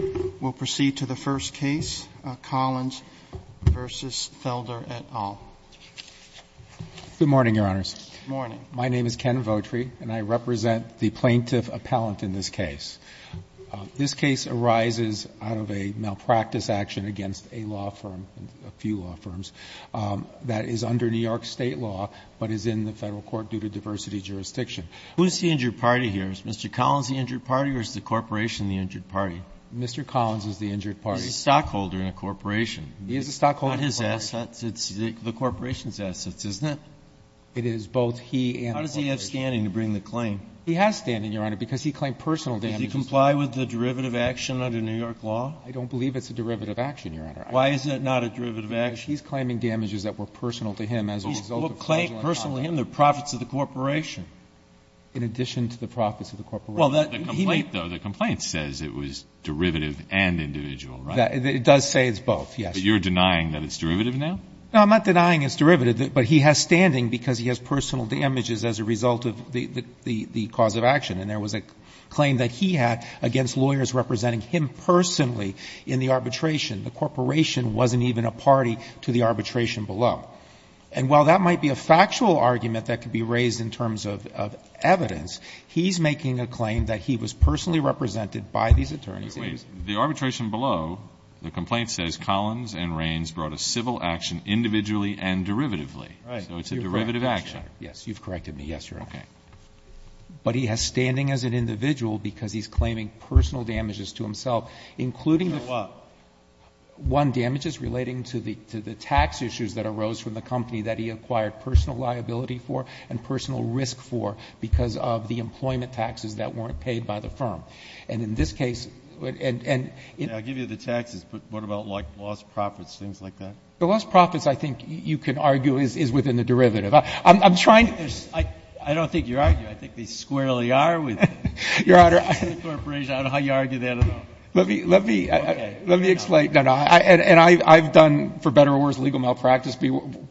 v. Collins v. Felder, et al. Ken Votri, Jr. Good morning, Your Honors. Roberts, Jr. Good morning. Ken Votri, Jr. My name is Ken Votri, and I represent the Plaintiff Appellant in this case. This case arises out of a malpractice action against a law firm, a few law firms, that is under New York State law, but is in the Federal court due to diversity jurisdiction. Roberts, Jr. Who is the injured party here? Is Mr. Collins the injured party or is the corporation the injured party? Ken Votri, Jr. Mr. Collins is the injured party. Roberts, Jr. A stockholder in a corporation. Ken Votri, Jr. He is a stockholder in a corporation. Roberts, Jr. Not his assets. It's the corporation's assets, isn't it? Ken Votri, Jr. It is both he and the corporation. Roberts, Jr. How does he have standing to bring the claim? Ken Votri, Jr. He has standing, Your Honor, because he claimed personal damages. Roberts, Jr. Does he comply with the derivative action under New York law? Ken Votri, Jr. I don't believe it's a derivative action, Your Honor. Roberts, Jr. Why is it not a derivative action? Ken Votri, Jr. He's claiming damages that were personal to him as a result of fraudulent conduct. the corporation. Roberts, Jr. In addition to the profits of the corporation? Ken Votri, Jr. The complaint says it was derivative and individual, right? Roberts, Jr. It does say it's both, yes. Ken Votri, Jr. But you're denying that it's derivative now? Roberts, Jr. I'm not denying it's derivative, but he has standing because he has personal damages as a result of the cause of action, and there was a claim that he had against lawyers representing him personally in the arbitration. The corporation wasn't even a party to the arbitration below. And while that might be a factual argument that could be raised in terms of evidence, he's making a claim that he was personally represented by these attorneys. Ken Votri, Jr. Wait. The arbitration below, the complaint says Collins and Raines brought a civil action individually and derivatively, so it's a derivative action. Roberts, Jr. Yes, you've corrected me, yes, Your Honor. Ken Votri, Jr. Okay. Roberts, Jr. But he has standing as an individual because he's claiming personal damages to himself, including the... Ken Votri, Jr. So what? Roberts, Jr. One, damages relating to the tax issues that arose from the company that he acquired personal liability for and personal risk for because of the employment taxes that weren't paid by the firm. And in this case... Ken Votri, Jr. I'll give you the taxes, but what about lost profits, things like that? Roberts, Jr. The lost profits, I think you can argue, is within the derivative. I'm trying... Ken Votri, Jr. I don't think you're arguing. I think they squarely are within the corporation. I don't know how you argue that at all. Roberts, Jr. Let me explain. And I've done, for better or worse, legal malpractice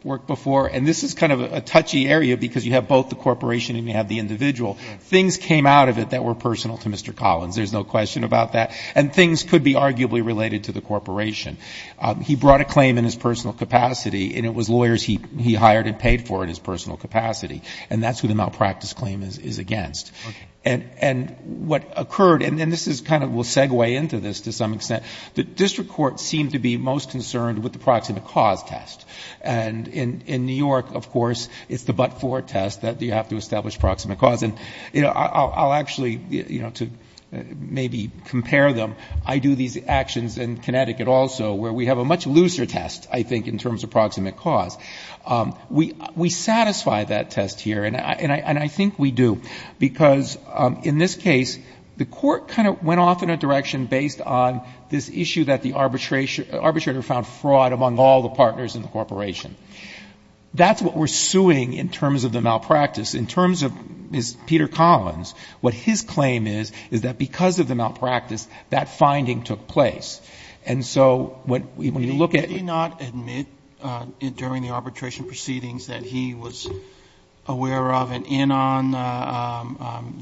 work before, and this is kind of a touchy area because you have both the corporation and you have the individual. Things came out of it that were personal to Mr. Collins. There's no question about that. And things could be arguably related to the corporation. He brought a claim in his personal capacity, and it was lawyers he hired and paid for in his personal capacity. And that's who the malpractice claim is against. And what occurred, and this is kind of, we'll segue into this to some extent, the district courts seem to be most concerned with the proximate cause test. And in New York, of course, it's the but-for test that you have to establish proximate cause. And I'll actually, to maybe compare them, I do these actions in Connecticut also, where we have a much looser test, I think, in terms of proximate cause. We satisfy that test here, and I think we do. Because in this case, the court kind of went off in a direction based on this issue that the arbitrator found fraud among all the partners in the corporation. That's what we're suing in terms of the malpractice. In terms of Mr. Peter Collins, what his claim is is that because of the malpractice, that finding took place. And so when you look at the testimony, did he not admit during the arbitration proceedings that he was aware of and in on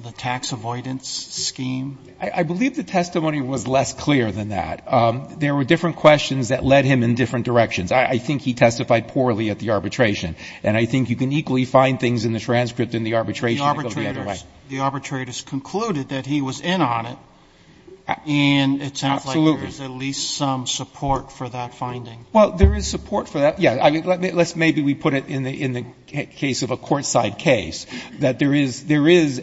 the tax avoidance scheme? I believe the testimony was less clear than that. There were different questions that led him in different directions. I think he testified poorly at the arbitration. And I think you can equally find things in the transcript in the arbitration that go the other way. The arbitrators concluded that he was in on it. Absolutely. And it sounds like there's at least some support for that finding. Well, there is support for that. Yeah. Let's maybe put it in the case of a courtside case, that there is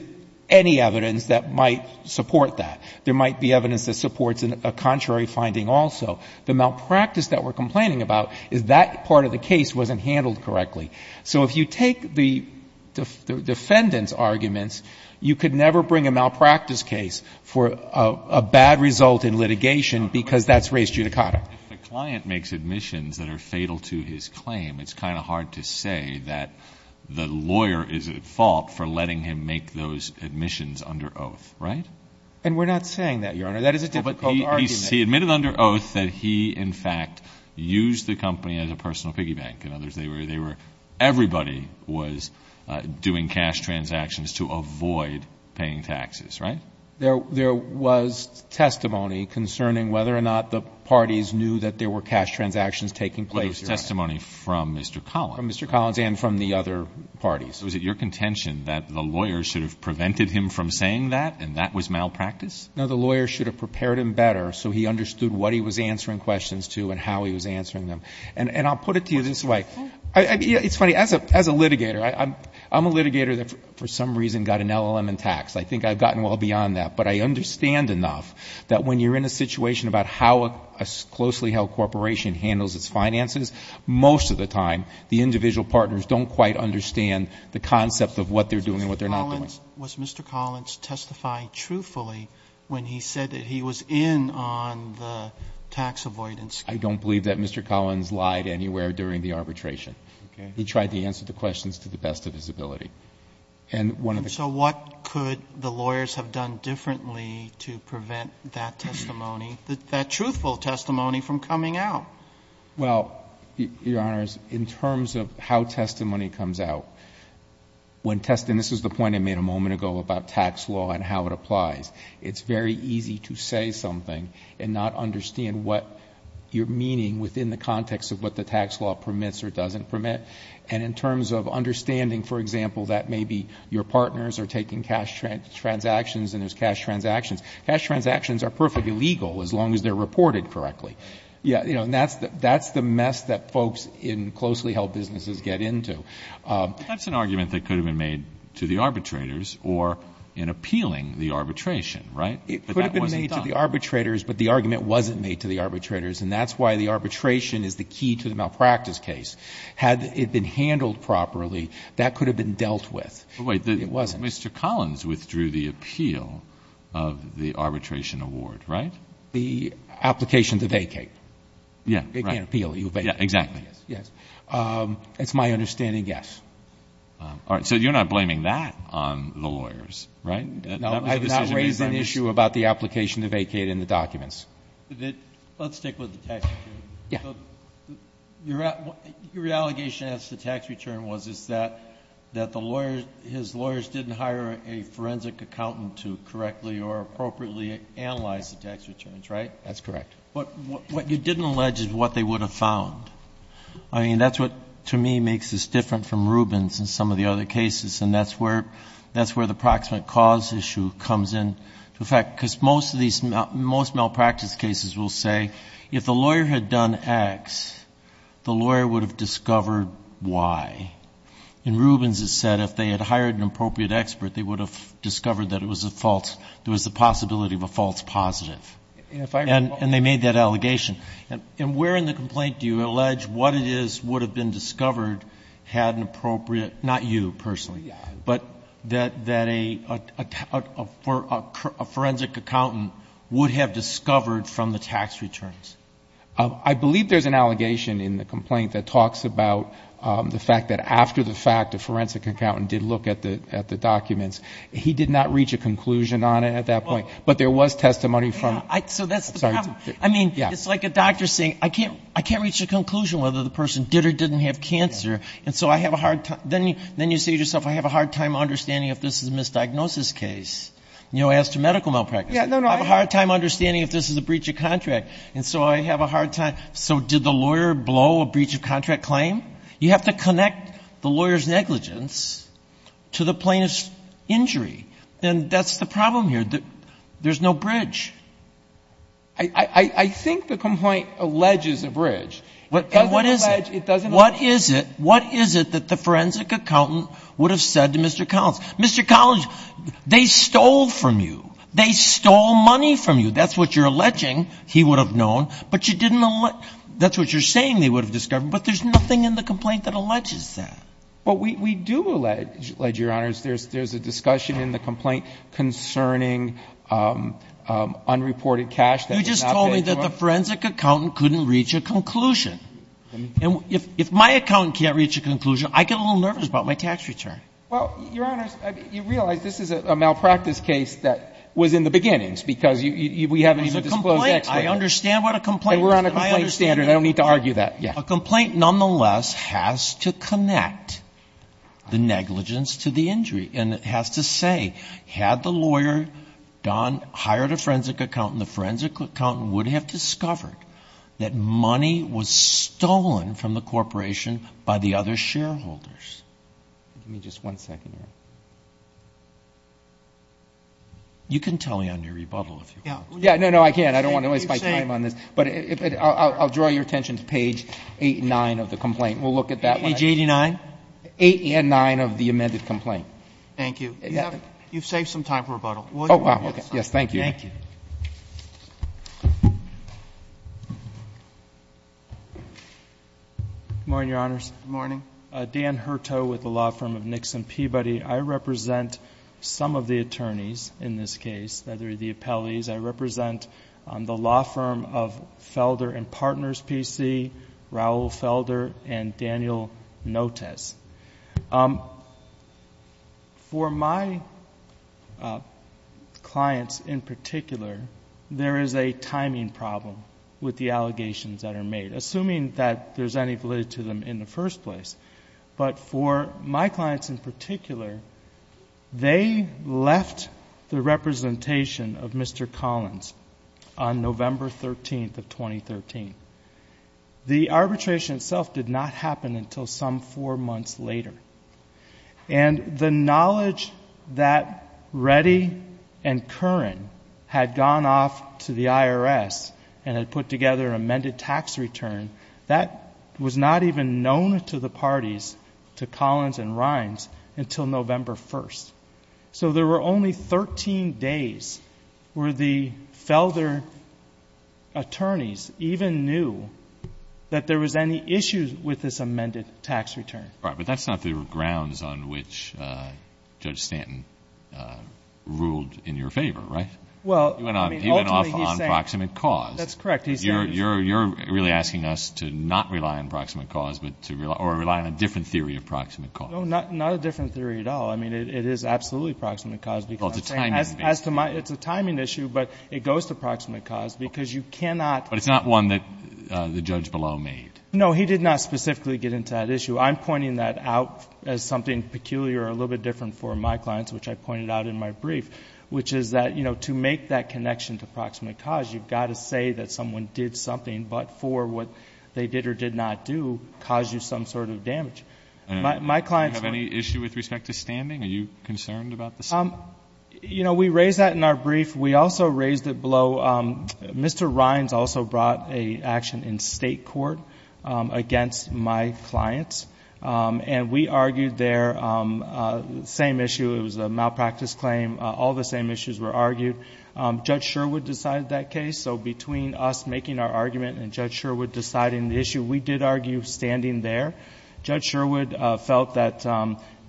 any evidence that might support that. There might be evidence that supports a contrary finding also. The malpractice that we're complaining about is that part of the case wasn't handled correctly. So if you take the defendant's case, you could never bring a malpractice case for a bad result in litigation because that's race judicata. If the client makes admissions that are fatal to his claim, it's kind of hard to say that the lawyer is at fault for letting him make those admissions under oath, right? And we're not saying that, Your Honor. That is a difficult argument. But he admitted under oath that he, in fact, used the company as a personal Everybody was doing cash transactions to avoid paying taxes, right? There was testimony concerning whether or not the parties knew that there were cash transactions taking place, Your Honor. There was testimony from Mr. Collins. From Mr. Collins and from the other parties. Was it your contention that the lawyer should have prevented him from saying that and that was malpractice? No, the lawyer should have prepared him better so he understood what he was answering questions to and how he was answering them. And I'll put it to you this way. It's funny. As a litigator, I'm a litigator that for some reason got an LLM in tax. I think I've gotten well beyond that. But I understand enough that when you're in a situation about how a closely held corporation handles its finances, most of the time the individual partners don't quite understand the concept of what they're doing and what they're not doing. Was Mr. Collins testified truthfully when he said that he was in on the tax avoidance? I don't believe that Mr. Collins lied anywhere during the arbitration. Okay. He tried to answer the questions to the best of his ability. And so what could the lawyers have done differently to prevent that testimony, that truthful testimony, from coming out? Well, Your Honors, in terms of how testimony comes out, when testing, this is the argument I made a moment ago about tax law and how it applies. It's very easy to say something and not understand what you're meaning within the context of what the tax law permits or doesn't permit. And in terms of understanding, for example, that maybe your partners are taking cash transactions and there's cash transactions. Cash transactions are perfectly legal as long as they're reported correctly. And that's the mess that folks in closely held businesses get into. That's an argument that could have been made to the arbitrators or in appealing the arbitration, right? But that wasn't done. It could have been made to the arbitrators, but the argument wasn't made to the arbitrators. And that's why the arbitration is the key to the malpractice case. Had it been handled properly, that could have been dealt with. But wait. It wasn't. Mr. Collins withdrew the appeal of the arbitration award, right? The application to vacate. Yeah, right. It can't appeal. You vacate. Yeah, exactly. Yes. It's my understanding, yes. All right. So you're not blaming that on the lawyers, right? No, I did not raise an issue about the application to vacate in the documents. Let's stick with the tax return. Yeah. Your allegation as to tax return was that his lawyers didn't hire a forensic accountant to correctly or appropriately analyze the tax returns, right? That's correct. But what you didn't allege is what they would have found. I mean, that's what, to me, makes this different from Rubens and some of the other cases. And that's where the proximate cause issue comes into effect. Because most malpractice cases will say if the lawyer had done X, the lawyer would have discovered Y. In Rubens it said if they had hired an appropriate expert, they would have discovered that it was the possibility of a false positive. And they made that allegation. And where in the complaint do you allege what it is would have been discovered had an appropriate, not you personally, but that a forensic accountant would have discovered from the tax returns? I believe there's an allegation in the complaint that talks about the fact that after the fact, the forensic accountant did look at the documents. He did not reach a conclusion on it at that point. But there was testimony from, sorry. So that's the problem. I mean, it's like a doctor saying, I can't reach a conclusion whether the person did or didn't have cancer. And so I have a hard time. Then you say to yourself, I have a hard time understanding if this is a misdiagnosis case. You know, as to medical malpractice. I have a hard time understanding if this is a breach of contract. And so I have a hard time. So did the lawyer blow a breach of contract claim? You have to connect the lawyer's negligence to the plaintiff's injury. And that's the problem here. There's no bridge. I think the complaint alleges a bridge. And what is it? It doesn't allege. What is it? What is it that the forensic accountant would have said to Mr. Collins? Mr. Collins, they stole from you. They stole money from you. That's what you're alleging. He would have known. But you didn't allege. That's what you're saying they would have discovered. But there's nothing in the complaint that alleges that. Well, we do allege, Your Honors. There's a discussion in the complaint concerning unreported cash that was not paid to him. You just told me that the forensic accountant couldn't reach a conclusion. And if my accountant can't reach a conclusion, I get a little nervous about my tax return. Well, Your Honors, you realize this is a malpractice case that was in the beginnings because we haven't even disclosed the explanation. It was a complaint. I understand what a complaint is. And we're on a complaint standard. I don't need to argue that. A complaint, nonetheless, has to connect the negligence to the injury. And it has to say, had the lawyer, Don, hired a forensic accountant, the forensic accountant would have discovered that money was stolen from the corporation by the other shareholders. Give me just one second here. You can tell me on your rebuttal if you want. No, I can't. I don't want to waste my time on this. But I'll draw your attention to page 8 and 9 of the complaint. We'll look at that. Page 89? 8 and 9 of the amended complaint. Thank you. You've saved some time for rebuttal. Oh, wow. Yes, thank you. Thank you. Good morning, Your Honors. Good morning. Dan Hertow with the law firm of Nixon Peabody. I represent some of the attorneys in this case. They're the appellees. I represent the law firm of Felder and Partners P.C., Raul Felder, and Daniel Notes. For my clients in particular, there is a timing problem with the allegations that are made, assuming that there's any validity to them in the first place. But for my clients in particular, they left the representation of Mr. Collins on November 13th of 2013. The arbitration itself did not happen until some four months later. And the knowledge that Reddy and Curran had gone off to the IRS and had put together an amended tax return, that was not even known to the parties, to Collins and Rines, until November 1st. So there were only 13 days where the Felder attorneys even knew that there was any issues with this amended tax return. Right. But that's not the grounds on which Judge Stanton ruled in your favor, right? Well, I mean, ultimately, he's saying... He went off on proximate cause. That's correct. He's saying... You're really asking us to not rely on proximate cause or rely on a different theory of proximate cause. No, not a different theory at all. I mean, it is absolutely proximate cause because... Well, it's a timing issue. It's a timing issue, but it goes to proximate cause because you cannot... But it's not one that the judge below made. No, he did not specifically get into that issue. I'm pointing that out as something peculiar or a little bit different for my clients, which I pointed out in my brief, which is that, you know, to make that connection to proximate cause, you've got to say that someone did something, but for what they did or did not do, caused you some sort of damage. My clients... Do you have any issue with respect to standing? Are you concerned about the standing? You know, we raised that in our brief. We also raised it below. Mr. Rimes also brought an action in State court against my clients, and we argued their same issue. It was a malpractice claim. All the same issues were argued. Judge Sherwood decided that case. So between us making our argument and Judge Sherwood deciding the issue, we did argue standing there. Judge Sherwood felt that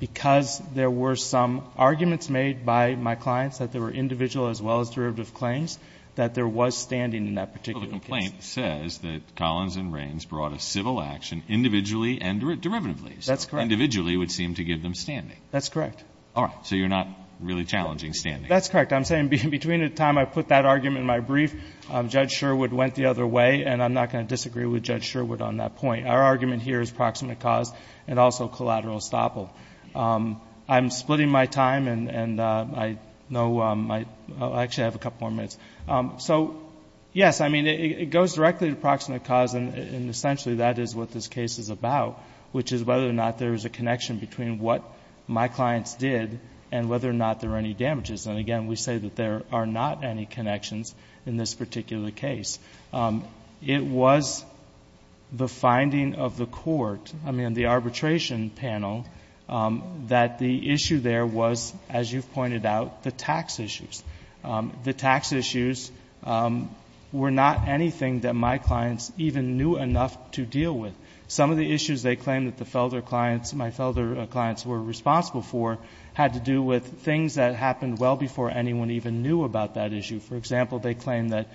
because there were some arguments made by my clients, that they were individual as well as derivative claims, that there was standing in that particular case. Well, the complaint says that Collins and Rimes brought a civil action individually and derivatively. That's correct. So individually would seem to give them standing. That's correct. All right. So you're not really challenging standing. That's correct. I'm saying between the time I put that argument in my brief, Judge Sherwood went the other way, and I'm not going to disagree with Judge Sherwood on that point. Our argument here is proximate cause and also collateral estoppel. I'm splitting my time, and I know my – I actually have a couple more minutes. So, yes, I mean, it goes directly to proximate cause, and essentially that is what this case is about, which is whether or not there is a connection between what my clients did and whether or not there are any damages. And, again, we say that there are not any connections in this particular case. It was the finding of the court, I mean, the arbitration panel, that the issue there was, as you've pointed out, the tax issues. The tax issues were not anything that my clients even knew enough to deal with. Some of the issues they claimed that the Felder clients, my Felder clients were responsible for, had to do with things that happened well before anyone even knew about that issue. For example, they claimed that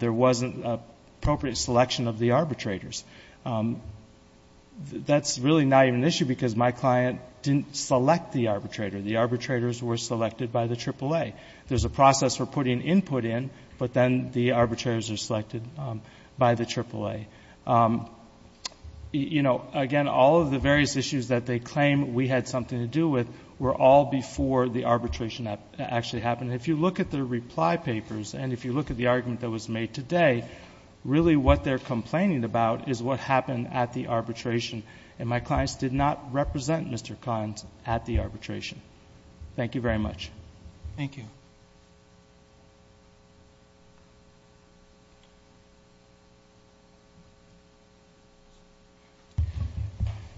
there wasn't appropriate selection of the arbitrators. That's really not even an issue because my client didn't select the arbitrator. The arbitrators were selected by the AAA. There's a process for putting input in, but then the arbitrators are selected by the AAA. Again, all of the various issues that they claim we had something to do with were all before the arbitration actually happened. If you look at the reply papers and if you look at the argument that was made today, really what they're complaining about is what happened at the arbitration, and my clients did not represent Mr. Kahn at the arbitration. Thank you very much. Thank you.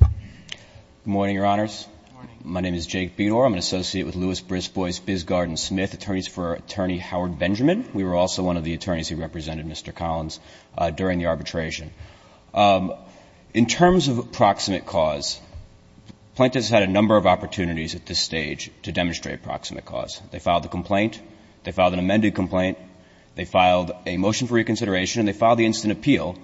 Good morning, Your Honors. Good morning. My name is Jake Bedore. I'm an associate with Louis Brisbois, Bisgarden, Smith, attorneys for Attorney Howard Benjamin. We were also one of the attorneys who represented Mr. Collins during the arbitration. In terms of proximate cause, plaintiffs had a number of opportunities at this stage to demonstrate proximate cause. They filed a complaint. They filed an amended complaint. They filed a motion for reconsideration, and they filed the instant appeal.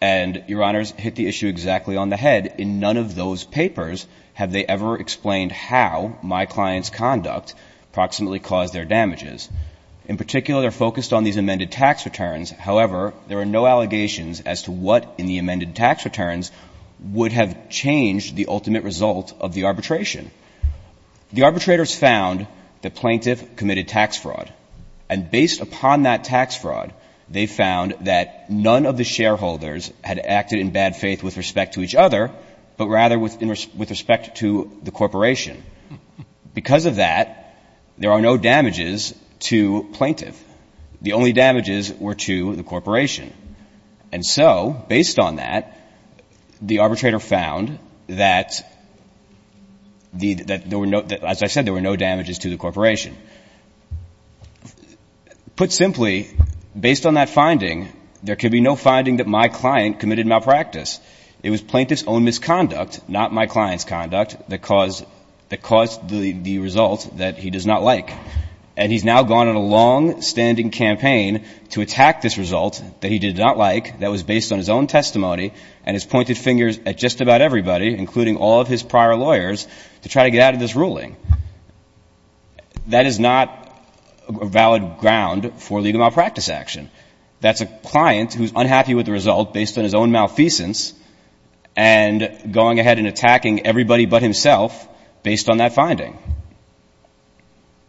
And, Your Honors, hit the issue exactly on the head. In none of those papers have they ever explained how my client's conduct proximately caused their damages. In particular, they're focused on these amended tax returns. However, there are no allegations as to what in the amended tax returns would have changed the ultimate result of the arbitration. The arbitrators found the plaintiff committed tax fraud, and based upon that tax fraud, they found that none of the shareholders had acted in bad faith with respect to each other, but rather with respect to the corporation. Because of that, there are no damages to plaintiff. The only damages were to the corporation. And so, based on that, the arbitrator found that there were no, as I said, there were no damages to the corporation. Put simply, based on that finding, there can be no finding that my client committed malpractice. It was plaintiff's own misconduct, not my client's conduct, that caused the result that he does not like. And he's now gone on a longstanding campaign to attack this result that he did not like, that was based on his own testimony, and has pointed fingers at just about everybody, including all of his prior lawyers, to try to get out of this ruling. That is not a valid ground for legal malpractice action. That's a client who's unhappy with the result based on his own malfeasance and going ahead and attacking everybody but himself based on that finding.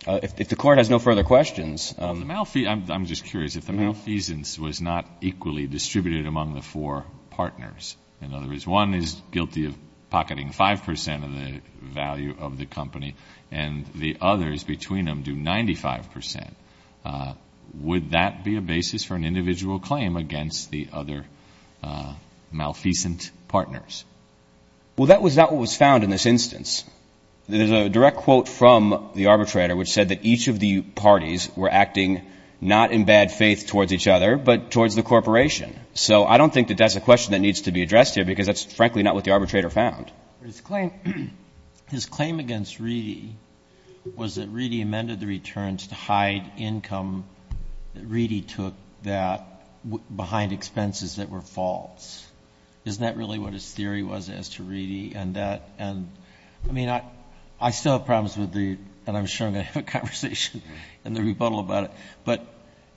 If the Court has no further questions. I'm just curious, if the malfeasance was not equally distributed among the four partners, in other words, one is guilty of pocketing 5% of the value of the company and the others between them do 95%, would that be a basis for an individual claim against the other malfeasant partners? Well, that was not what was found in this instance. There's a direct quote from the arbitrator which said that each of the parties were acting not in bad faith towards each other, but towards the corporation. So I don't think that that's a question that needs to be addressed here because that's frankly not what the arbitrator found. But his claim against Reedy was that Reedy amended the returns to hide income. Reedy took that behind expenses that were false. Isn't that really what his theory was as to Reedy and that? And, I mean, I still have problems with the, and I'm sure I'm going to have a conversation in the rebuttal about it. But,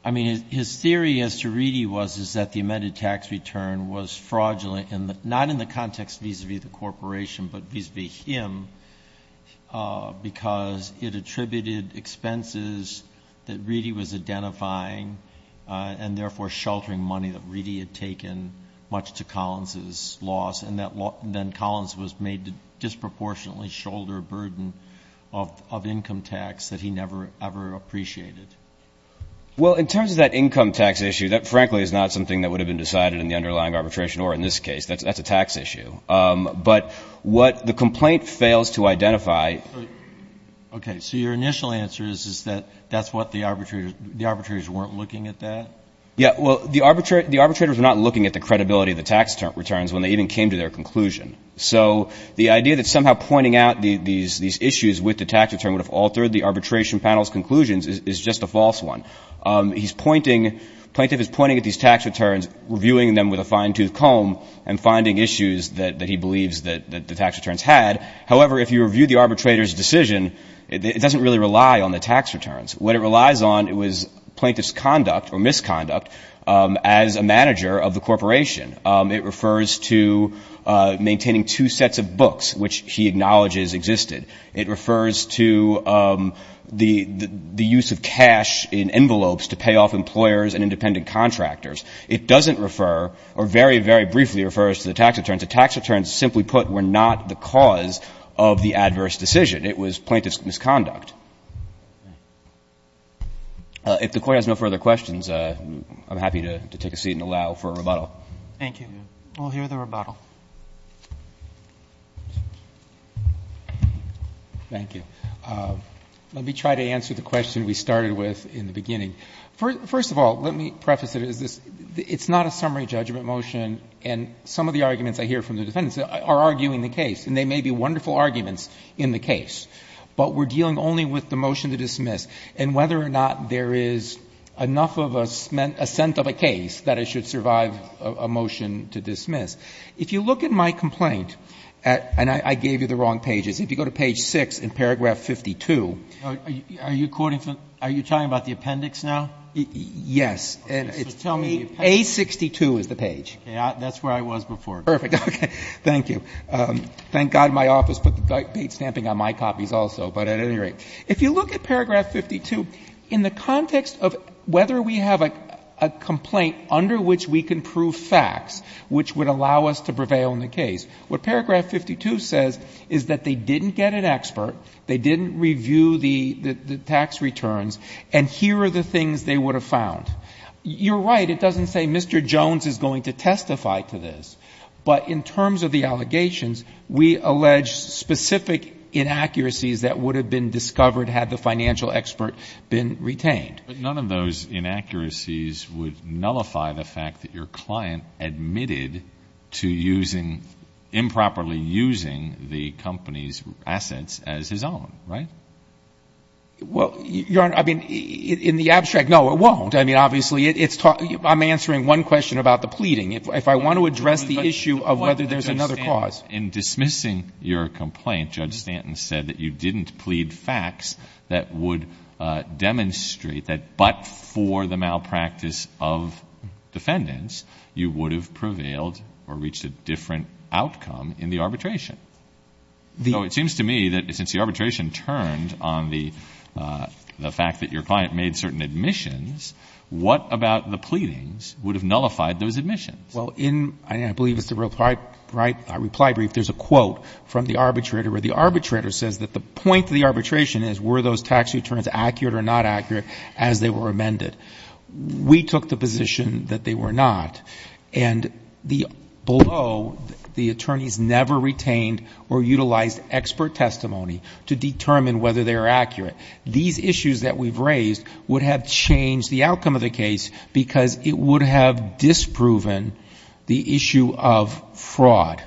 I mean, his theory as to Reedy was that the amended tax return was fraudulent and not in the context vis-a-vis the corporation but vis-a-vis him because it attributed expenses that Reedy was identifying and therefore sheltering money that Reedy had taken much to Collins' loss and then Collins was made to disproportionately shoulder a burden of income tax that he never, ever appreciated. Well, in terms of that income tax issue, that frankly is not something that would have been decided in the underlying arbitration or in this case. That's a tax issue. But what the complaint fails to identify. Okay. So your initial answer is that that's what the arbitrator, the arbitrators weren't looking at that? Yeah. Well, the arbitrators were not looking at the credibility of the tax returns when they even came to their conclusion. So the idea that somehow pointing out these issues with the tax return would have altered the arbitration panel's conclusions is just a false one. He's pointing, the plaintiff is pointing at these tax returns, reviewing them with a fine-toothed comb and finding issues that he believes that the tax returns had. However, if you review the arbitrator's decision, it doesn't really rely on the tax returns. What it relies on was plaintiff's conduct or misconduct as a manager of the corporation. It refers to maintaining two sets of books, which he acknowledges existed. It refers to the use of cash in envelopes to pay off employers and independent contractors. It doesn't refer or very, very briefly refers to the tax returns. The tax returns, simply put, were not the cause of the adverse decision. It was plaintiff's misconduct. If the Court has no further questions, I'm happy to take a seat and allow for a rebuttal. Thank you. We'll hear the rebuttal. Thank you. Let me try to answer the question we started with in the beginning. First of all, let me preface it as this. It's not a summary judgment motion, and some of the arguments I hear from the defendants are arguing the case, and they may be wonderful arguments in the case, but we're dealing only with the motion to dismiss and whether or not there is enough of a scent of a case that it should survive a motion to dismiss. If you look at my complaint, and I gave you the wrong pages. If you go to page 6 in paragraph 52. Are you talking about the appendix now? Yes. So tell me the appendix. A62 is the page. That's where I was before. Perfect. Okay. Thank you. Thank God my office put the bait stamping on my copies also. But at any rate, if you look at paragraph 52, in the context of whether we have a complaint under which we can prove facts which would allow us to prevail in the case, what paragraph 52 says is that they didn't get an expert, they didn't review the tax returns, and here are the things they would have found. You're right. It doesn't say Mr. Jones is going to testify to this, but in terms of the allegations, we allege specific inaccuracies that would have been discovered had the financial expert been retained. But none of those inaccuracies would nullify the fact that your client admitted to improperly using the company's assets as his own, right? Well, Your Honor, I mean, in the abstract, no, it won't. I mean, obviously, I'm answering one question about the pleading. If I want to address the issue of whether there's another cause. In dismissing your complaint, Judge Stanton said that you didn't plead facts that would demonstrate that but for the malpractice of defendants, you would have prevailed or reached a different outcome in the arbitration. So it seems to me that since the arbitration turned on the fact that your client made certain admissions, what about the pleadings would have nullified those admissions? Well, in, I believe it's the reply brief, there's a quote from the arbitrator where the arbitrator says that the point of the arbitration is were those tax returns accurate or not accurate as they were amended. We took the position that they were not. And below, the attorneys never retained or utilized expert testimony to determine whether they were accurate. These issues that we've raised would have changed the outcome of the case because it would have disproven the issue of fraud.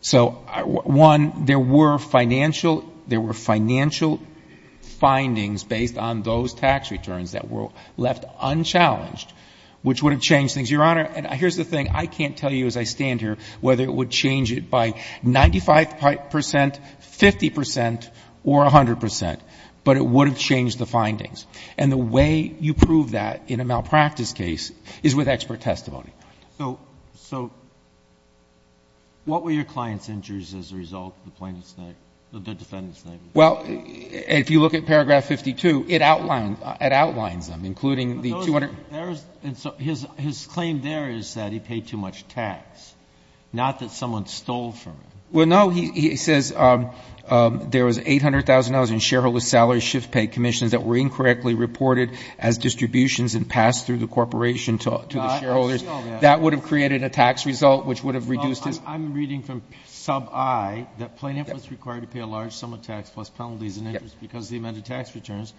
So, one, there were financial, there were financial findings based on those tax returns that were left unchallenged, which would have changed things. Your Honor, and here's the thing. I can't tell you as I stand here whether it would change it by 95 percent, 50 percent or 100 percent, but it would have changed the findings. And the way you prove that in a malpractice case is with expert testimony. So, what were your client's injuries as a result of the plaintiff's name, the defendant's name? Well, if you look at paragraph 52, it outlines them, including the 200. His claim there is that he paid too much tax, not that someone stole from him. Well, no. He says there was $800,000 in shareholder salary shift pay commissions that were incorrectly That would have created a tax result which would have reduced his I'm reading from sub I that plaintiff was required to pay a large sum of tax plus penalties and interest because of the amended tax returns.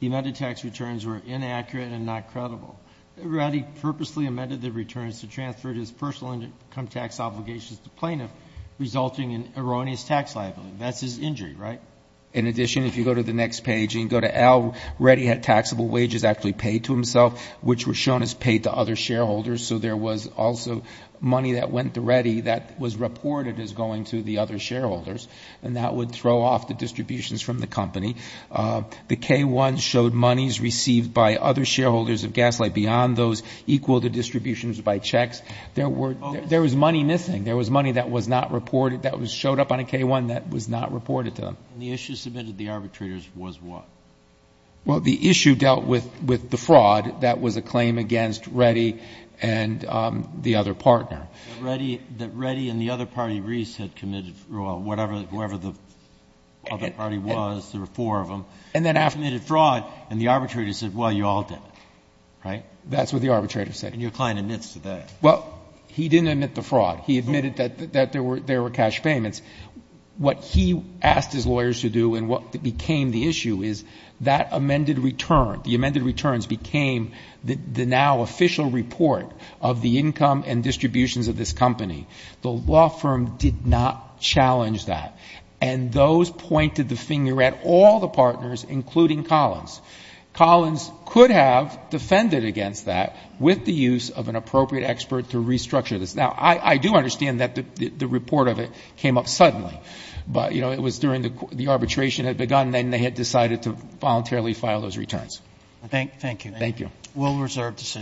The amended tax returns were inaccurate and not credible. Reddy purposely amended the returns to transfer his personal income tax obligations to the plaintiff, resulting in erroneous tax liability. That's his injury, right? In addition, if you go to the next page and you go to L, Reddy had taxable wages actually which were shown as paid to other shareholders. So there was also money that went to Reddy that was reported as going to the other shareholders and that would throw off the distributions from the company. The K-1 showed monies received by other shareholders of Gaslight beyond those equal to distributions by checks. There was money missing. There was money that was not reported, that showed up on a K-1 that was not reported to them. And the issue submitted to the arbitrators was what? Well, the issue dealt with the fraud that was a claim against Reddy and the other partner. But Reddy and the other party, Reese, had committed fraud, whoever the other party was, there were four of them, had committed fraud and the arbitrator said, well, you all did it. Right? That's what the arbitrator said. And your client admits to that. Well, he didn't admit the fraud. He admitted that there were cash payments. What he asked his lawyers to do and what became the issue is that amended return, the amended returns became the now official report of the income and distributions of this company. The law firm did not challenge that. And those pointed the finger at all the partners, including Collins. Collins could have defended against that with the use of an appropriate expert to restructure this. Now, I do understand that the report of it came up suddenly, but, you know, it was during the arbitration had begun and they had decided to voluntarily file those returns. Thank you. Thank you. We'll reserve the session.